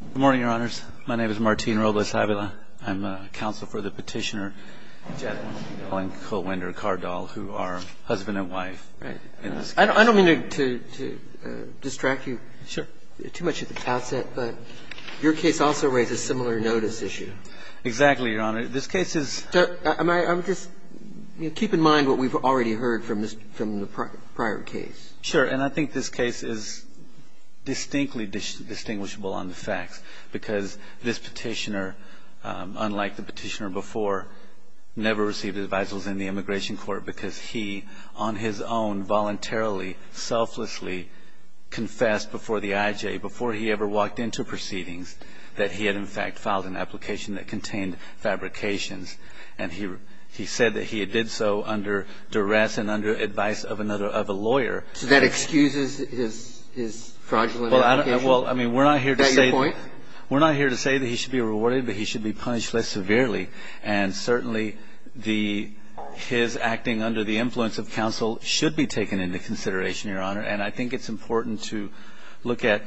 Good morning, Your Honors. My name is Martin Robles-Avila. I'm a counsel for the petitioner, Janet Holling-Colewinder-Cardall, who are husband and wife in this case. I don't mean to distract you too much at the outset, but your case also raises a similar notice issue. Exactly, Your Honor. This case is – I'm just – keep in mind what we've already heard from the prior case. Sure, and I think this case is distinctly distinguishable on the facts because this petitioner, unlike the petitioner before, never received advisals in the immigration court because he, on his own, voluntarily, selflessly confessed before the IJ, before he ever walked into proceedings, that he had in fact filed an application that contained fabrications. And he said that he did so under duress and under advice of another – of a lawyer. So that excuses his fraudulent application? Well, I don't – well, I mean, we're not here to say – Is that your point? We're not here to say that he should be rewarded, but he should be punished less severely. And certainly, the – his acting under the influence of counsel should be taken into consideration, Your Honor. And I think it's important to look at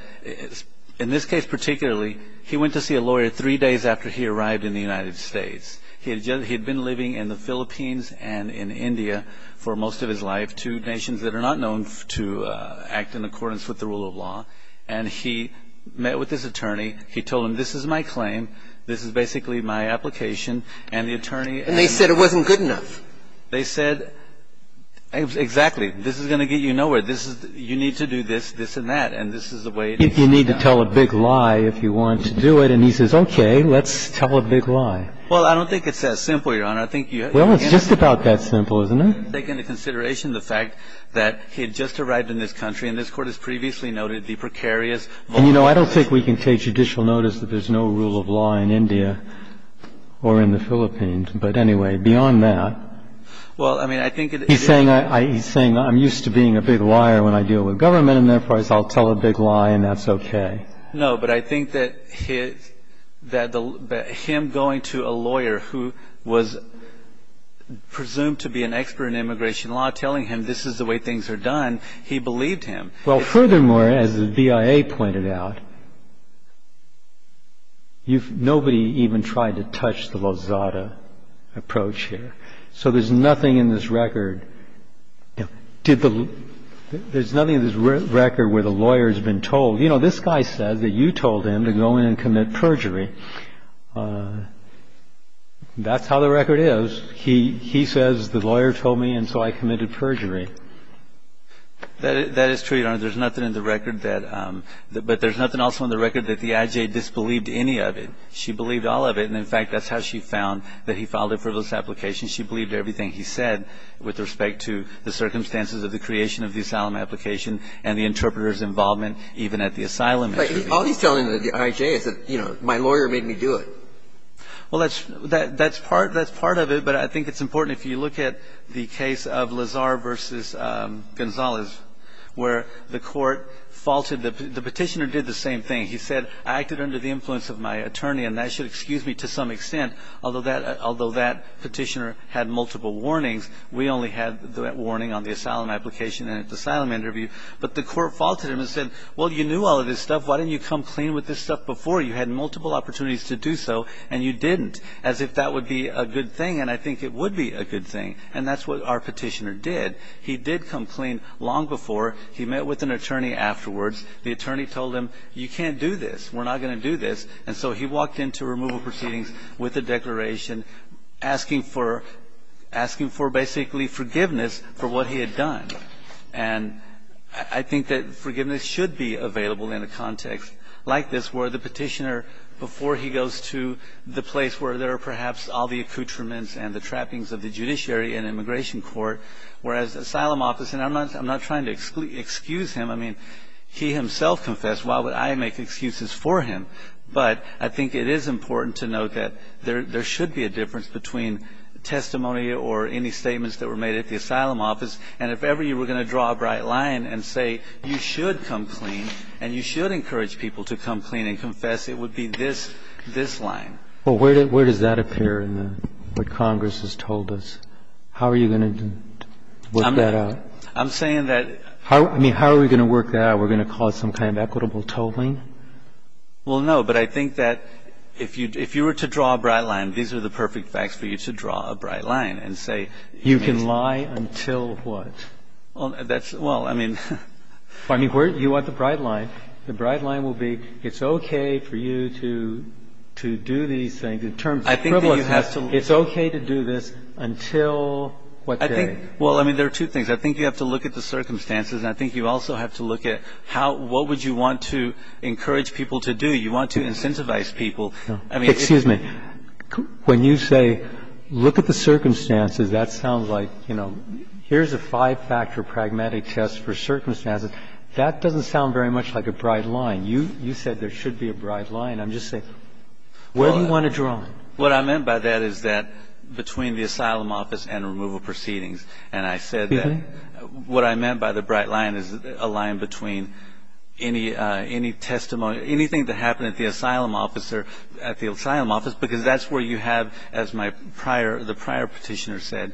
– in this case particularly, he went to see a lawyer three days after he arrived in the United States. He had just – he had been living in the Philippines and in India for most of his life, two nations that are not known to act in accordance with the rule of law. And he met with this attorney. He told him, this is my claim. This is basically my application. And the attorney – And they said it wasn't good enough. They said – exactly. This is going to get you nowhere. This is – you need to do this, this, and that. And this is the way – You need to tell a big lie if you want to do it. And he says, okay, let's tell a big lie. Well, I don't think it's that simple, Your Honor. I think you have to – Well, it's just about that simple, isn't it? Take into consideration the fact that he had just arrived in this country. And this Court has previously noted the precarious – And, you know, I don't think we can take judicial notice that there's no rule of law in India or in the Philippines. But anyway, beyond that – Well, I mean, I think it – He's saying I – he's saying I'm used to being a big liar when I deal with government. And therefore, I'll tell a big lie and that's okay. No, but I think that he – that him going to a lawyer who was presumed to be an expert in immigration law, telling him this is the way things are done, he believed him. Well, furthermore, as the BIA pointed out, nobody even tried to touch the Lozada approach here. So there's nothing in this record – Did the – There's nothing in this record where the lawyer's been told – You know, this guy said that you told him to go in and commit perjury. That's how the record is. He says the lawyer told me and so I committed perjury. That is true, Your Honor. There's nothing in the record that – But there's nothing also in the record that the IJ disbelieved any of it. She believed all of it. And, in fact, that's how she found that he filed a frivolous application. She believed everything he said with respect to the circumstances of the creation of the asylum application and the interpreter's involvement even at the asylum interview. But all he's telling the IJ is that, you know, my lawyer made me do it. Well, that's part of it. But I think it's important if you look at the case of Lazar v. Gonzalez, where the court faltered. The Petitioner did the same thing. He said, I acted under the influence of my attorney, and that should excuse me to some extent. Although that Petitioner had multiple warnings, we only had that warning on the asylum application and at the asylum interview. But the court faulted him and said, well, you knew all of this stuff. Why didn't you come clean with this stuff before? You had multiple opportunities to do so, and you didn't, as if that would be a good thing. And I think it would be a good thing. And that's what our Petitioner did. He did come clean long before. He met with an attorney afterwards. The attorney told him, you can't do this. We're not going to do this. And so he walked into removal proceedings with a declaration asking for basically forgiveness for what he had done. And I think that forgiveness should be available in a context like this where the Petitioner, before he goes to the place where there are perhaps all the accoutrements and the trappings of the judiciary and immigration court, whereas the asylum office, and I'm not trying to excuse him. I mean, he himself confessed. Why would I make excuses for him? But I think it is important to note that there should be a difference between testimony or any statements that were made at the asylum office. And if ever you were going to draw a bright line and say you should come clean and you should encourage people to come clean and confess, it would be this line. Well, where does that appear in what Congress has told us? How are you going to work that out? I'm saying that – I mean, how are we going to work that out? Are we going to cause some kind of equitable tolling? Well, no, but I think that if you were to draw a bright line, these are the perfect facts for you to draw a bright line and say – You can lie until what? Well, that's – well, I mean – I mean, you want the bright line. The bright line will be it's okay for you to do these things. I think that you have to – It's okay to do this until what day? Well, I mean, there are two things. I think you have to look at the circumstances. And I think you also have to look at how – what would you want to encourage people to do. You want to incentivize people. I mean – Excuse me. When you say look at the circumstances, that sounds like, you know, here's a five-factor pragmatic test for circumstances. That doesn't sound very much like a bright line. You said there should be a bright line. I'm just saying where do you want to draw it? What I meant by that is that between the asylum office and removal proceedings. And I said that what I meant by the bright line is a line between any testimony – anything that happened at the asylum office because that's where you have, as the prior petitioner said,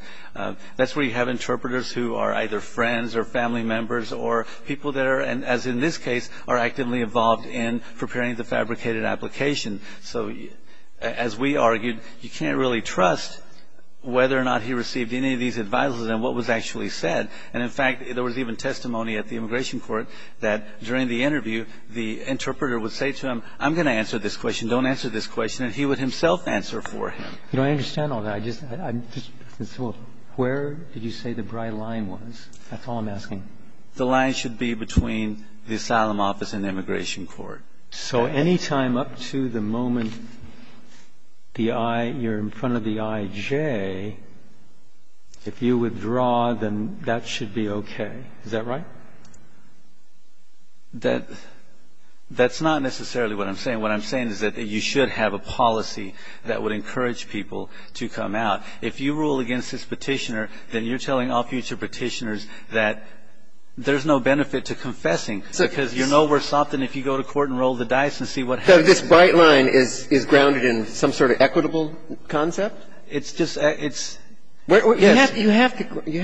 that's where you have interpreters who are either friends or family members or people that are, as in this case, are actively involved in preparing the fabricated application. So as we argued, you can't really trust whether or not he received any of these advisers and what was actually said. And, in fact, there was even testimony at the immigration court that during the interview, the interpreter would say to him, I'm going to answer this question. Don't answer this question. And he would himself answer for him. You know, I understand all that. I just – where did you say the bright line was? That's all I'm asking. The line should be between the asylum office and the immigration court. So any time up to the moment the I – you're in front of the IJ, if you withdraw, then that should be okay. Is that right? That's not necessarily what I'm saying. What I'm saying is that you should have a policy that would encourage people to come out. If you rule against this petitioner, then you're telling all future petitioners that there's no benefit to confessing. Because you know we're something if you go to court and roll the dice and see what happens. So this bright line is grounded in some sort of equitable concept? It's just – it's – yes. You have to – you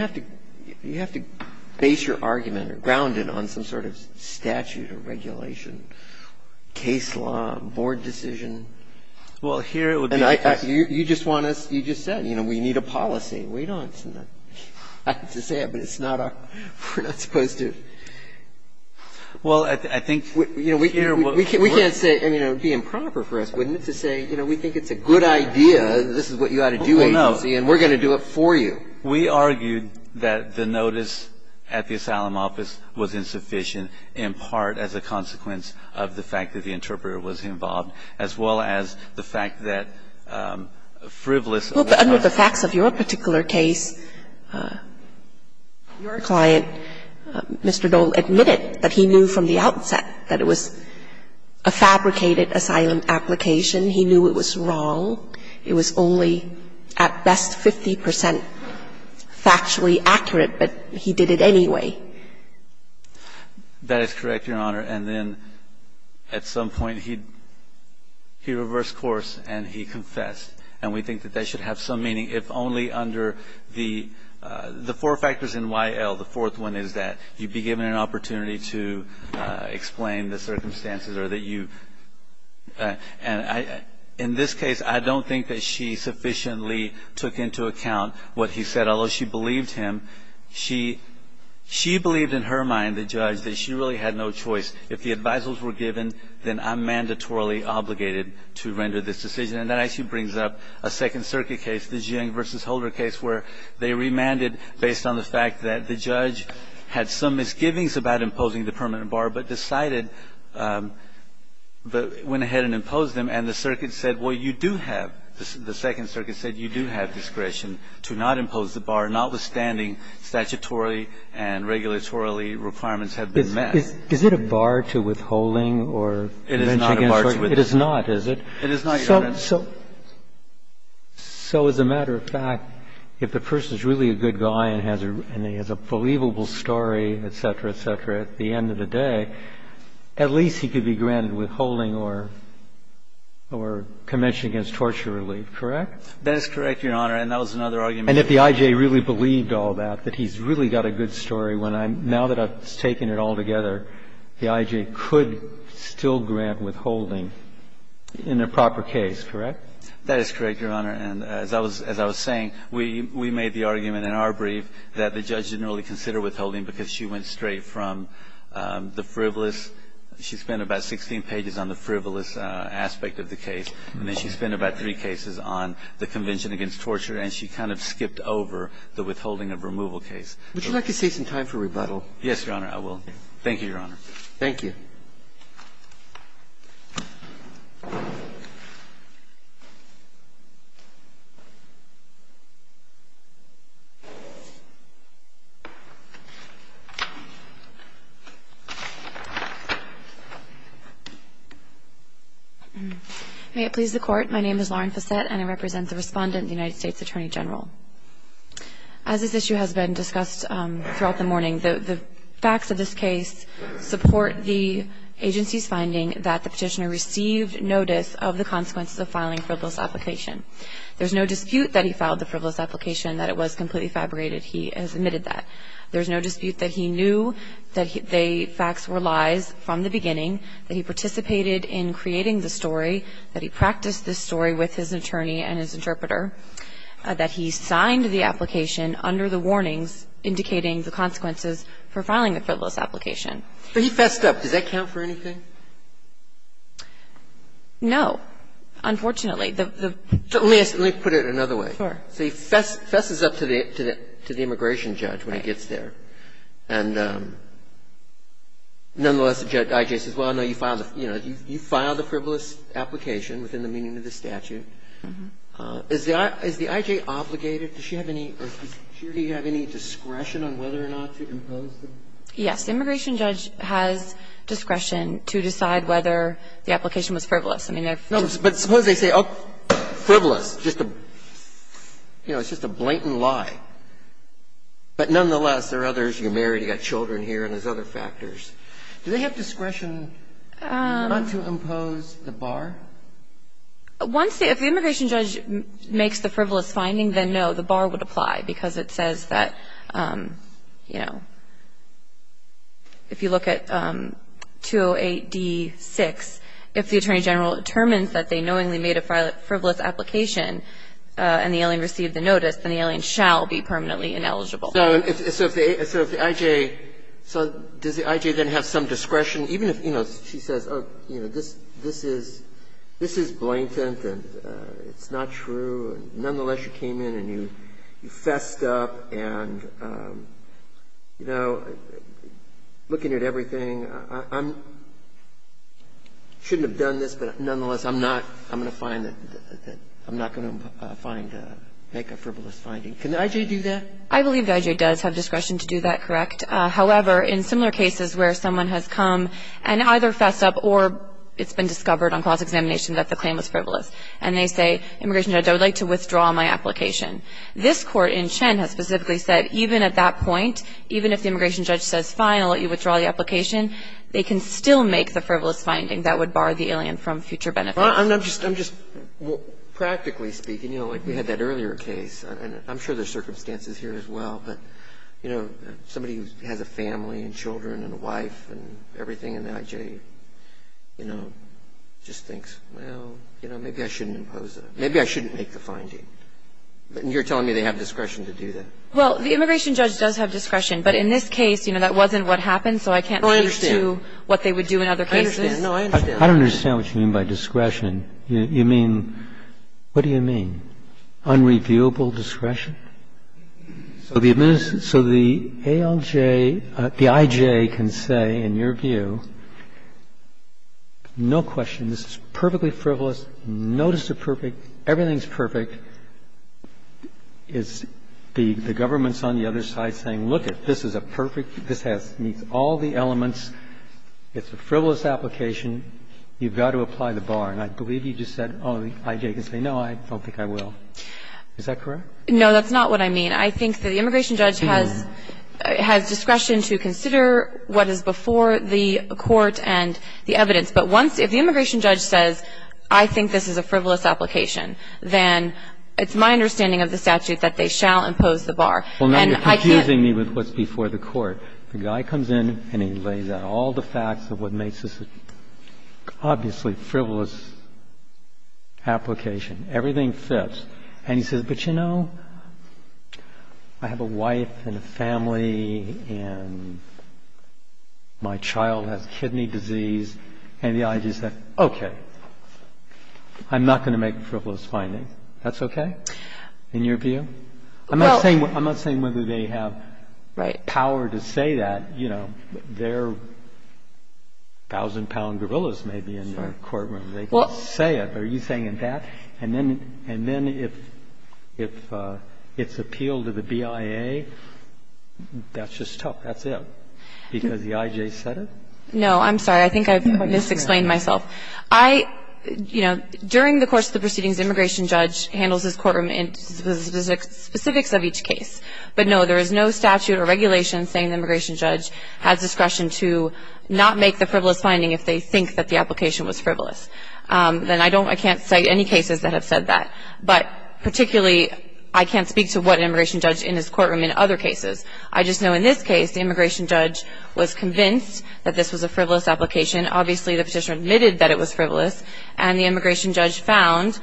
have to base your argument or ground it on some sort of statute or regulation, case law, board decision. Well, here it would be – And you just want us – you just said, you know, we need a policy. We don't. I have to say it, but it's not our – we're not supposed to. Well, I think here what we're – We can't say – I mean, it would be improper for us, wouldn't it, to say, you know, we think it's a good idea, this is what you ought to do, agency, and we're going to do it for you. We argued that the notice at the asylum office was insufficient in part as a consequence of the fact that the interpreter was involved, as well as the fact that frivolous Under the facts of your particular case, your client, Mr. Dole, admitted that he knew from the outset that it was a fabricated asylum application. He knew it was wrong. It was only at best 50 percent factually accurate, but he did it anyway. That is correct, Your Honor. And then at some point he reversed course and he confessed, and we think that that should have some meaning if only under the four factors in YL. The fourth one is that you'd be given an opportunity to explain the circumstances or that you – and in this case, I don't think that she sufficiently took into account what he said, although she believed him. She believed in her mind, the judge, that she really had no choice. If the advisals were given, then I'm mandatorily obligated to render this decision. And that actually brings up a Second Circuit case, the Jiang v. Holder case, where they remanded based on the fact that the judge had some misgivings about imposing the permanent bar, but decided – went ahead and imposed them, and the circuit said, well, you do have – you do have the right to impose the permanent bar, notwithstanding statutory and regulatory requirements have been met. Is it a bar to withholding or convention against torture? It is not a bar to withholding. It is not, is it? It is not, Your Honor. So as a matter of fact, if the person is really a good guy and has a – and he has a believable story, et cetera, et cetera, at the end of the day, at least he could be granted withholding or convention against torture relief, correct? That is correct, Your Honor. And that was another argument. And if the I.J. really believed all that, that he's really got a good story when I'm – now that I've taken it all together, the I.J. could still grant withholding in a proper case, correct? That is correct, Your Honor. And as I was saying, we made the argument in our brief that the judge didn't really consider withholding because she went straight from the frivolous. She spent about 16 pages on the frivolous aspect of the case, and then she spent about three cases on the convention against torture, and she kind of skipped over the withholding of removal case. Would you like to save some time for rebuttal? Yes, Your Honor, I will. Thank you, Your Honor. Thank you. May it please the Court. My name is Lauren Fassette, and I represent the Respondent, the United States Attorney General. As this issue has been discussed throughout the morning, the facts of this case support the agency's finding that the Petitioner received notice of the consequences of filing frivolous application. There's no dispute that he filed the frivolous application, that it was completely fabricated. He has admitted that. There's no dispute that he knew that the facts were lies. There's no dispute that he knew from the beginning that he participated in creating the story, that he practiced the story with his attorney and his interpreter, that he signed the application under the warnings indicating the consequences for filing the frivolous application. But he fessed up. Does that count for anything? No, unfortunately. Let me put it another way. Sure. So he fesses up to the immigration judge when he gets there. And nonetheless, the I.J. says, well, no, you filed the frivolous application within the meaning of the statute. Is the I.J. obligated, does she have any, or does she or do you have any discretion on whether or not to impose the? Yes. The immigration judge has discretion to decide whether the application was frivolous. No, but suppose they say, oh, frivolous, just a, you know, it's just a blatant lie. But nonetheless, there are others. You're married. You've got children here and there's other factors. Do they have discretion not to impose the bar? Once the immigration judge makes the frivolous finding, then no, the bar would apply because it says that, you know, if you look at 208d6, if the attorney general determines that they knowingly made a frivolous application and the alien received the notice, then the alien shall be permanently ineligible. So if the I.J. So does the I.J. then have some discretion, even if, you know, she says, oh, you know, this is blatant and it's not true, and nonetheless, you came in and you fessed up and, you know, looking at everything. I shouldn't have done this, but nonetheless, I'm not going to find that, I'm not going to make a frivolous finding. Can the I.J. do that? I believe the I.J. does have discretion to do that, correct. However, in similar cases where someone has come and either fessed up or it's been discovered on cause examination that the claim was frivolous, and they say, immigration judge, I would like to withdraw my application. This Court in Chen has specifically said even at that point, even if the immigration judge says, fine, I'll let you withdraw the application, they can still make the frivolous finding that would bar the alien from future benefits. I'm just practically speaking, you know, like we had that earlier case, and I'm sure there's circumstances here as well, but, you know, somebody who has a family and children and a wife and everything, and the I.J., you know, just thinks, well, you know, maybe I shouldn't impose it. Maybe I shouldn't make the finding. And you're telling me they have discretion to do that. Well, the immigration judge does have discretion. But in this case, you know, that wasn't what happened. So I can't speak to what they would do in other cases. No, I understand. I don't understand what you mean by discretion. You mean, what do you mean? Unreviewable discretion? So the administrator, so the ALJ, the I.J. can say, in your view, no question. This is perfectly frivolous. Notice of perfect. Everything's perfect. Is the government's on the other side saying, lookit, this is a perfect, this meets all the elements. It's a frivolous application. You've got to apply the bar. And I believe you just said, oh, the I.J. can say, no, I don't think I will. Is that correct? No, that's not what I mean. I think that the immigration judge has discretion to consider what is before the court and the evidence. But once, if the immigration judge says, I think this is a frivolous application, then it's my understanding of the statute that they shall impose the bar. Well, now you're confusing me with what's before the court. The guy comes in and he lays out all the facts of what makes this an obviously frivolous application. Everything fits. And he says, but you know, I have a wife and a family and my child has kidney disease. And the I.J. says, okay, I'm not going to make a frivolous finding. That's okay? In your view? I'm not saying whether they have power to say that. You know, they're thousand-pound gorillas maybe in the courtroom. They can say it. But are you saying that? And then if it's appealed to the BIA, that's just tough. That's it. Because the I.J. said it? No, I'm sorry. I think I've mis-explained myself. I, you know, during the course of the proceedings, the immigration judge handles his courtroom in specifics of each case. But, no, there is no statute or regulation saying the immigration judge has discretion to not make the frivolous finding if they think that the application was frivolous. And I don't, I can't cite any cases that have said that. But, particularly, I can't speak to what immigration judge in his courtroom in other cases. I just know in this case the immigration judge was convinced that this was a frivolous application. Obviously, the petitioner admitted that it was frivolous. And the immigration judge found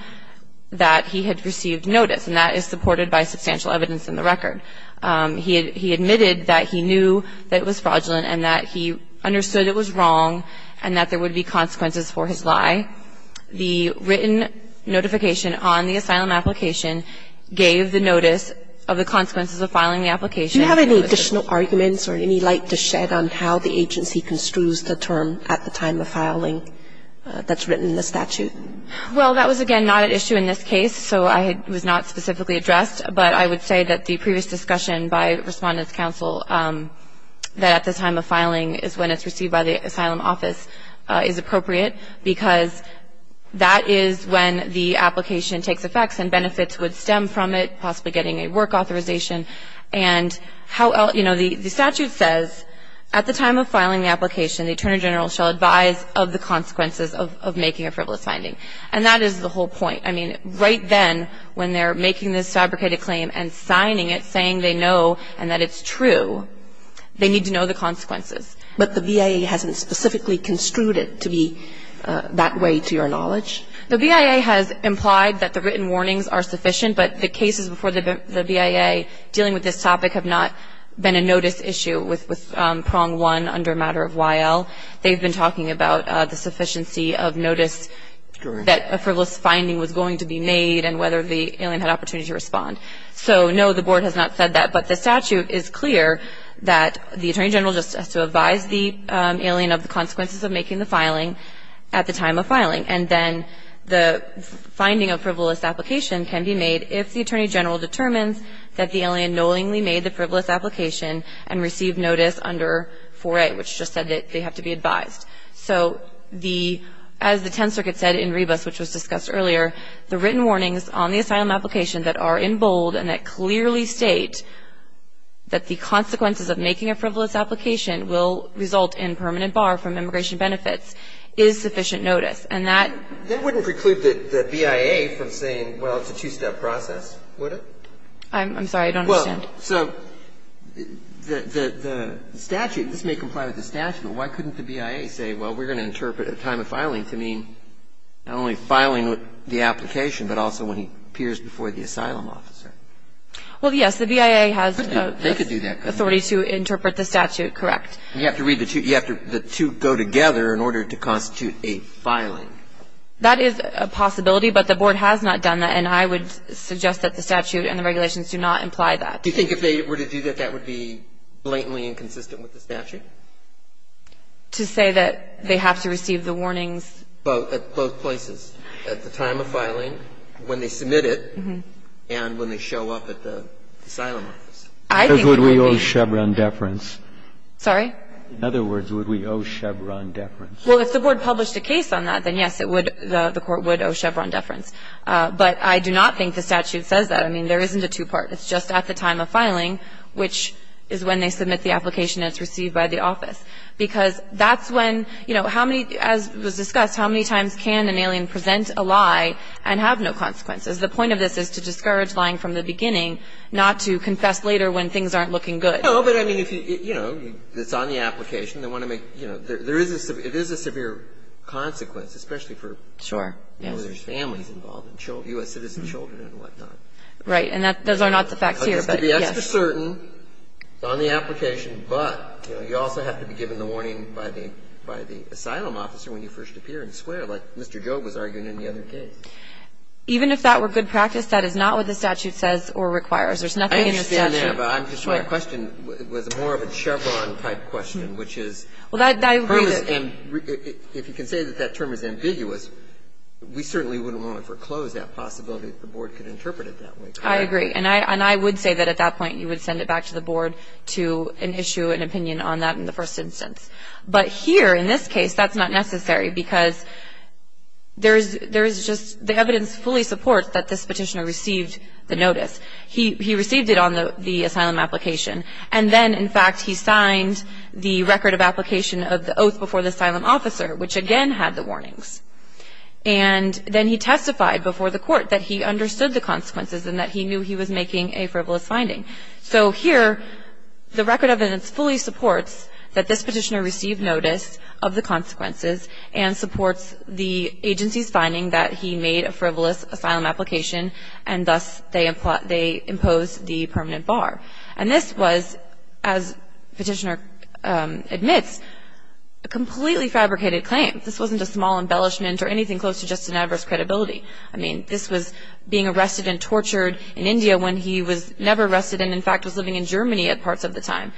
that he had received notice. And that is supported by substantial evidence in the record. He admitted that he knew that it was fraudulent and that he understood it was wrong and that there would be consequences for his lie. The written notification on the asylum application gave the notice of the consequences of filing the application. Do you have any additional arguments or any light to shed on how the agency construes the term at the time of filing that's written in the statute? Well, that was, again, not at issue in this case. So it was not specifically addressed. But I would say that the previous discussion by Respondent's Counsel, that at the time of filing is when it's received by the asylum office, is appropriate because that is when the application takes effect and benefits would stem from it, possibly getting a work authorization. And how else – you know, the statute says at the time of filing the application the Attorney General shall advise of the consequences of making a frivolous finding. And that is the whole point. I mean, right then when they're making this fabricated claim and signing it saying they know and that it's true, they need to know the consequences. But the BIA hasn't specifically construed it to be that way, to your knowledge? The BIA has implied that the written warnings are sufficient, but the cases before the BIA dealing with this topic have not been a notice issue with prong one under a matter of YL. They've been talking about the sufficiency of notice that a frivolous finding was going to be made and whether the alien had opportunity to respond. So, no, the Board has not said that. But the statute is clear that the Attorney General just has to advise the alien of the consequences of making the filing at the time of filing. And then the finding of frivolous application can be made if the Attorney General determines that the alien knowingly made the frivolous application and received notice under 4A, which just said that they have to be advised. So, as the Tenth Circuit said in Rebus, which was discussed earlier, the written warnings on the asylum application that are in bold and that clearly state that the consequences of making a frivolous application will result in permanent bar from immigration benefits is sufficient notice. And that wouldn't preclude the BIA from saying, well, it's a two-step process, would it? I'm sorry, I don't understand. Well, so the statute, this may comply with the statute, but why couldn't the BIA say, well, we're going to interpret a time of filing to mean not only filing the application, but also when he appears before the asylum officer? Well, yes, the BIA has the authority to interpret the statute, correct. You have to read the two. You have to the two go together in order to constitute a filing. That is a possibility, but the Board has not done that. And I would suggest that the statute and the regulations do not imply that. Do you think if they were to do that, that would be blatantly inconsistent with the statute? To say that they have to receive the warnings? Both. At both places. At the time of filing, when they submit it, and when they show up at the asylum office. I think it would be. Because would we owe Chevron deference? Sorry? In other words, would we owe Chevron deference? Well, if the Board published a case on that, then, yes, it would, the Court would owe Chevron deference. But I do not think the statute says that. I mean, there isn't a two-part. It's just at the time of filing, which is when they submit the application and it's received by the office. Because that's when, you know, how many, as was discussed, how many times can an alien present a lie and have no consequences? The point of this is to discourage lying from the beginning, not to confess later when things aren't looking good. No, but I mean, you know, it's on the application. They want to make, you know, there is a severe consequence, especially for. Sure. You know, there's families involved, U.S. citizen children and whatnot. Right. And those are not the facts here, but, yes. You have to be extra certain on the application, but, you know, you also have to be given the warning by the asylum officer when you first appear and swear, like Mr. Joe was arguing in the other case. Even if that were good practice, that is not what the statute says or requires. There's nothing in the statute. I understand that, but I'm just, my question was more of a Chevron-type question, which is. I agree that. If you can say that that term is ambiguous, we certainly wouldn't want to foreclose that possibility that the Board could interpret it that way. I agree. And I would say that at that point you would send it back to the Board to issue an opinion on that in the first instance. But here in this case, that's not necessary because there is just the evidence fully supports that this Petitioner received the notice. He received it on the asylum application, and then, in fact, he signed the record of application of the oath before the asylum officer, which again had the warnings. And then he testified before the Court that he understood the consequences and that he knew he was making a frivolous finding. So here the record of evidence fully supports that this Petitioner received notice of the consequences and supports the agency's finding that he made a frivolous asylum application, and thus they impose the permanent bar. And this was, as Petitioner admits, a completely fabricated claim. This wasn't a small embellishment or anything close to just an adverse credibility. I mean, this was being arrested and tortured in India when he was never arrested and, in fact, was living in Germany at parts of the time.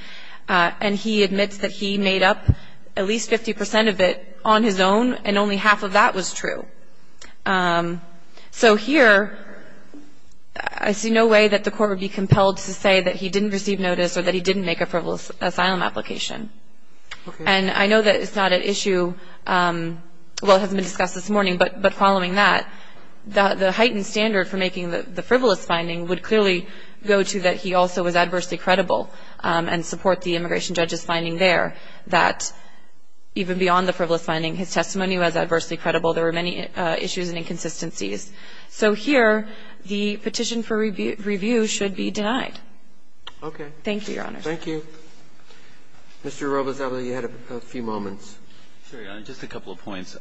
And he admits that he made up at least 50 percent of it on his own, and only half of that was true. So here I see no way that the Court would be compelled to say that he didn't receive notice or that he didn't make a frivolous asylum application. And I know that it's not at issue, well, it hasn't been discussed this morning, but following that, the heightened standard for making the frivolous finding would clearly go to that he also was adversely credible and support the immigration judge's finding there, that even beyond the frivolous finding, his testimony was adversely credible. There were many issues and inconsistencies. So here the petition for review should be denied. Thank you, Your Honor. Roberts, you had a few moments. Just a couple of points.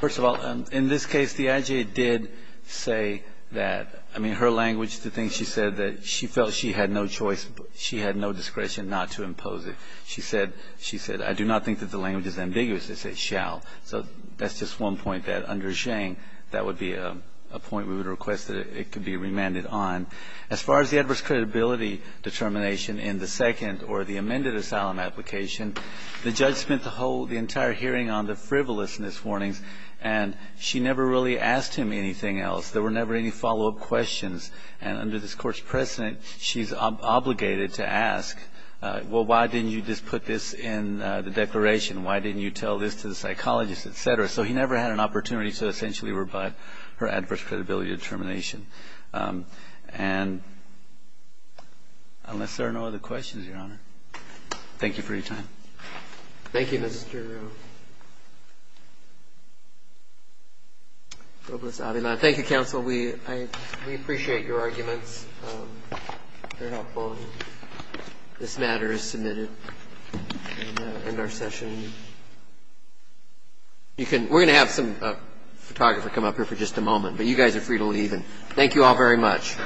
First of all, in this case, the IJ did say that. I mean, her language, the things she said, that she felt she had no choice, she had no discretion not to impose it. She said, she said, I do not think that the language is ambiguous. It says shall. So that's just one point that under Zhang, that would be a point we would request that it could be remanded on. As far as the adverse credibility determination in the second or the amended asylum application, the judge spent the whole, the entire hearing on the frivolousness warnings, and she never really asked him anything else. There were never any follow-up questions. And under this Court's precedent, she's obligated to ask, well, why didn't you do this, put this in the declaration? Why didn't you tell this to the psychologist, et cetera? So he never had an opportunity to essentially revive her adverse credibility determination. And unless there are no other questions, Your Honor, thank you for your time. Thank you, Mr. Robles-Avila. Thank you, counsel. We appreciate your arguments. They're helpful. This matter is submitted and our session. We're going to have some photographer come up here for just a moment, but you guys are free to leave. And thank you all very much.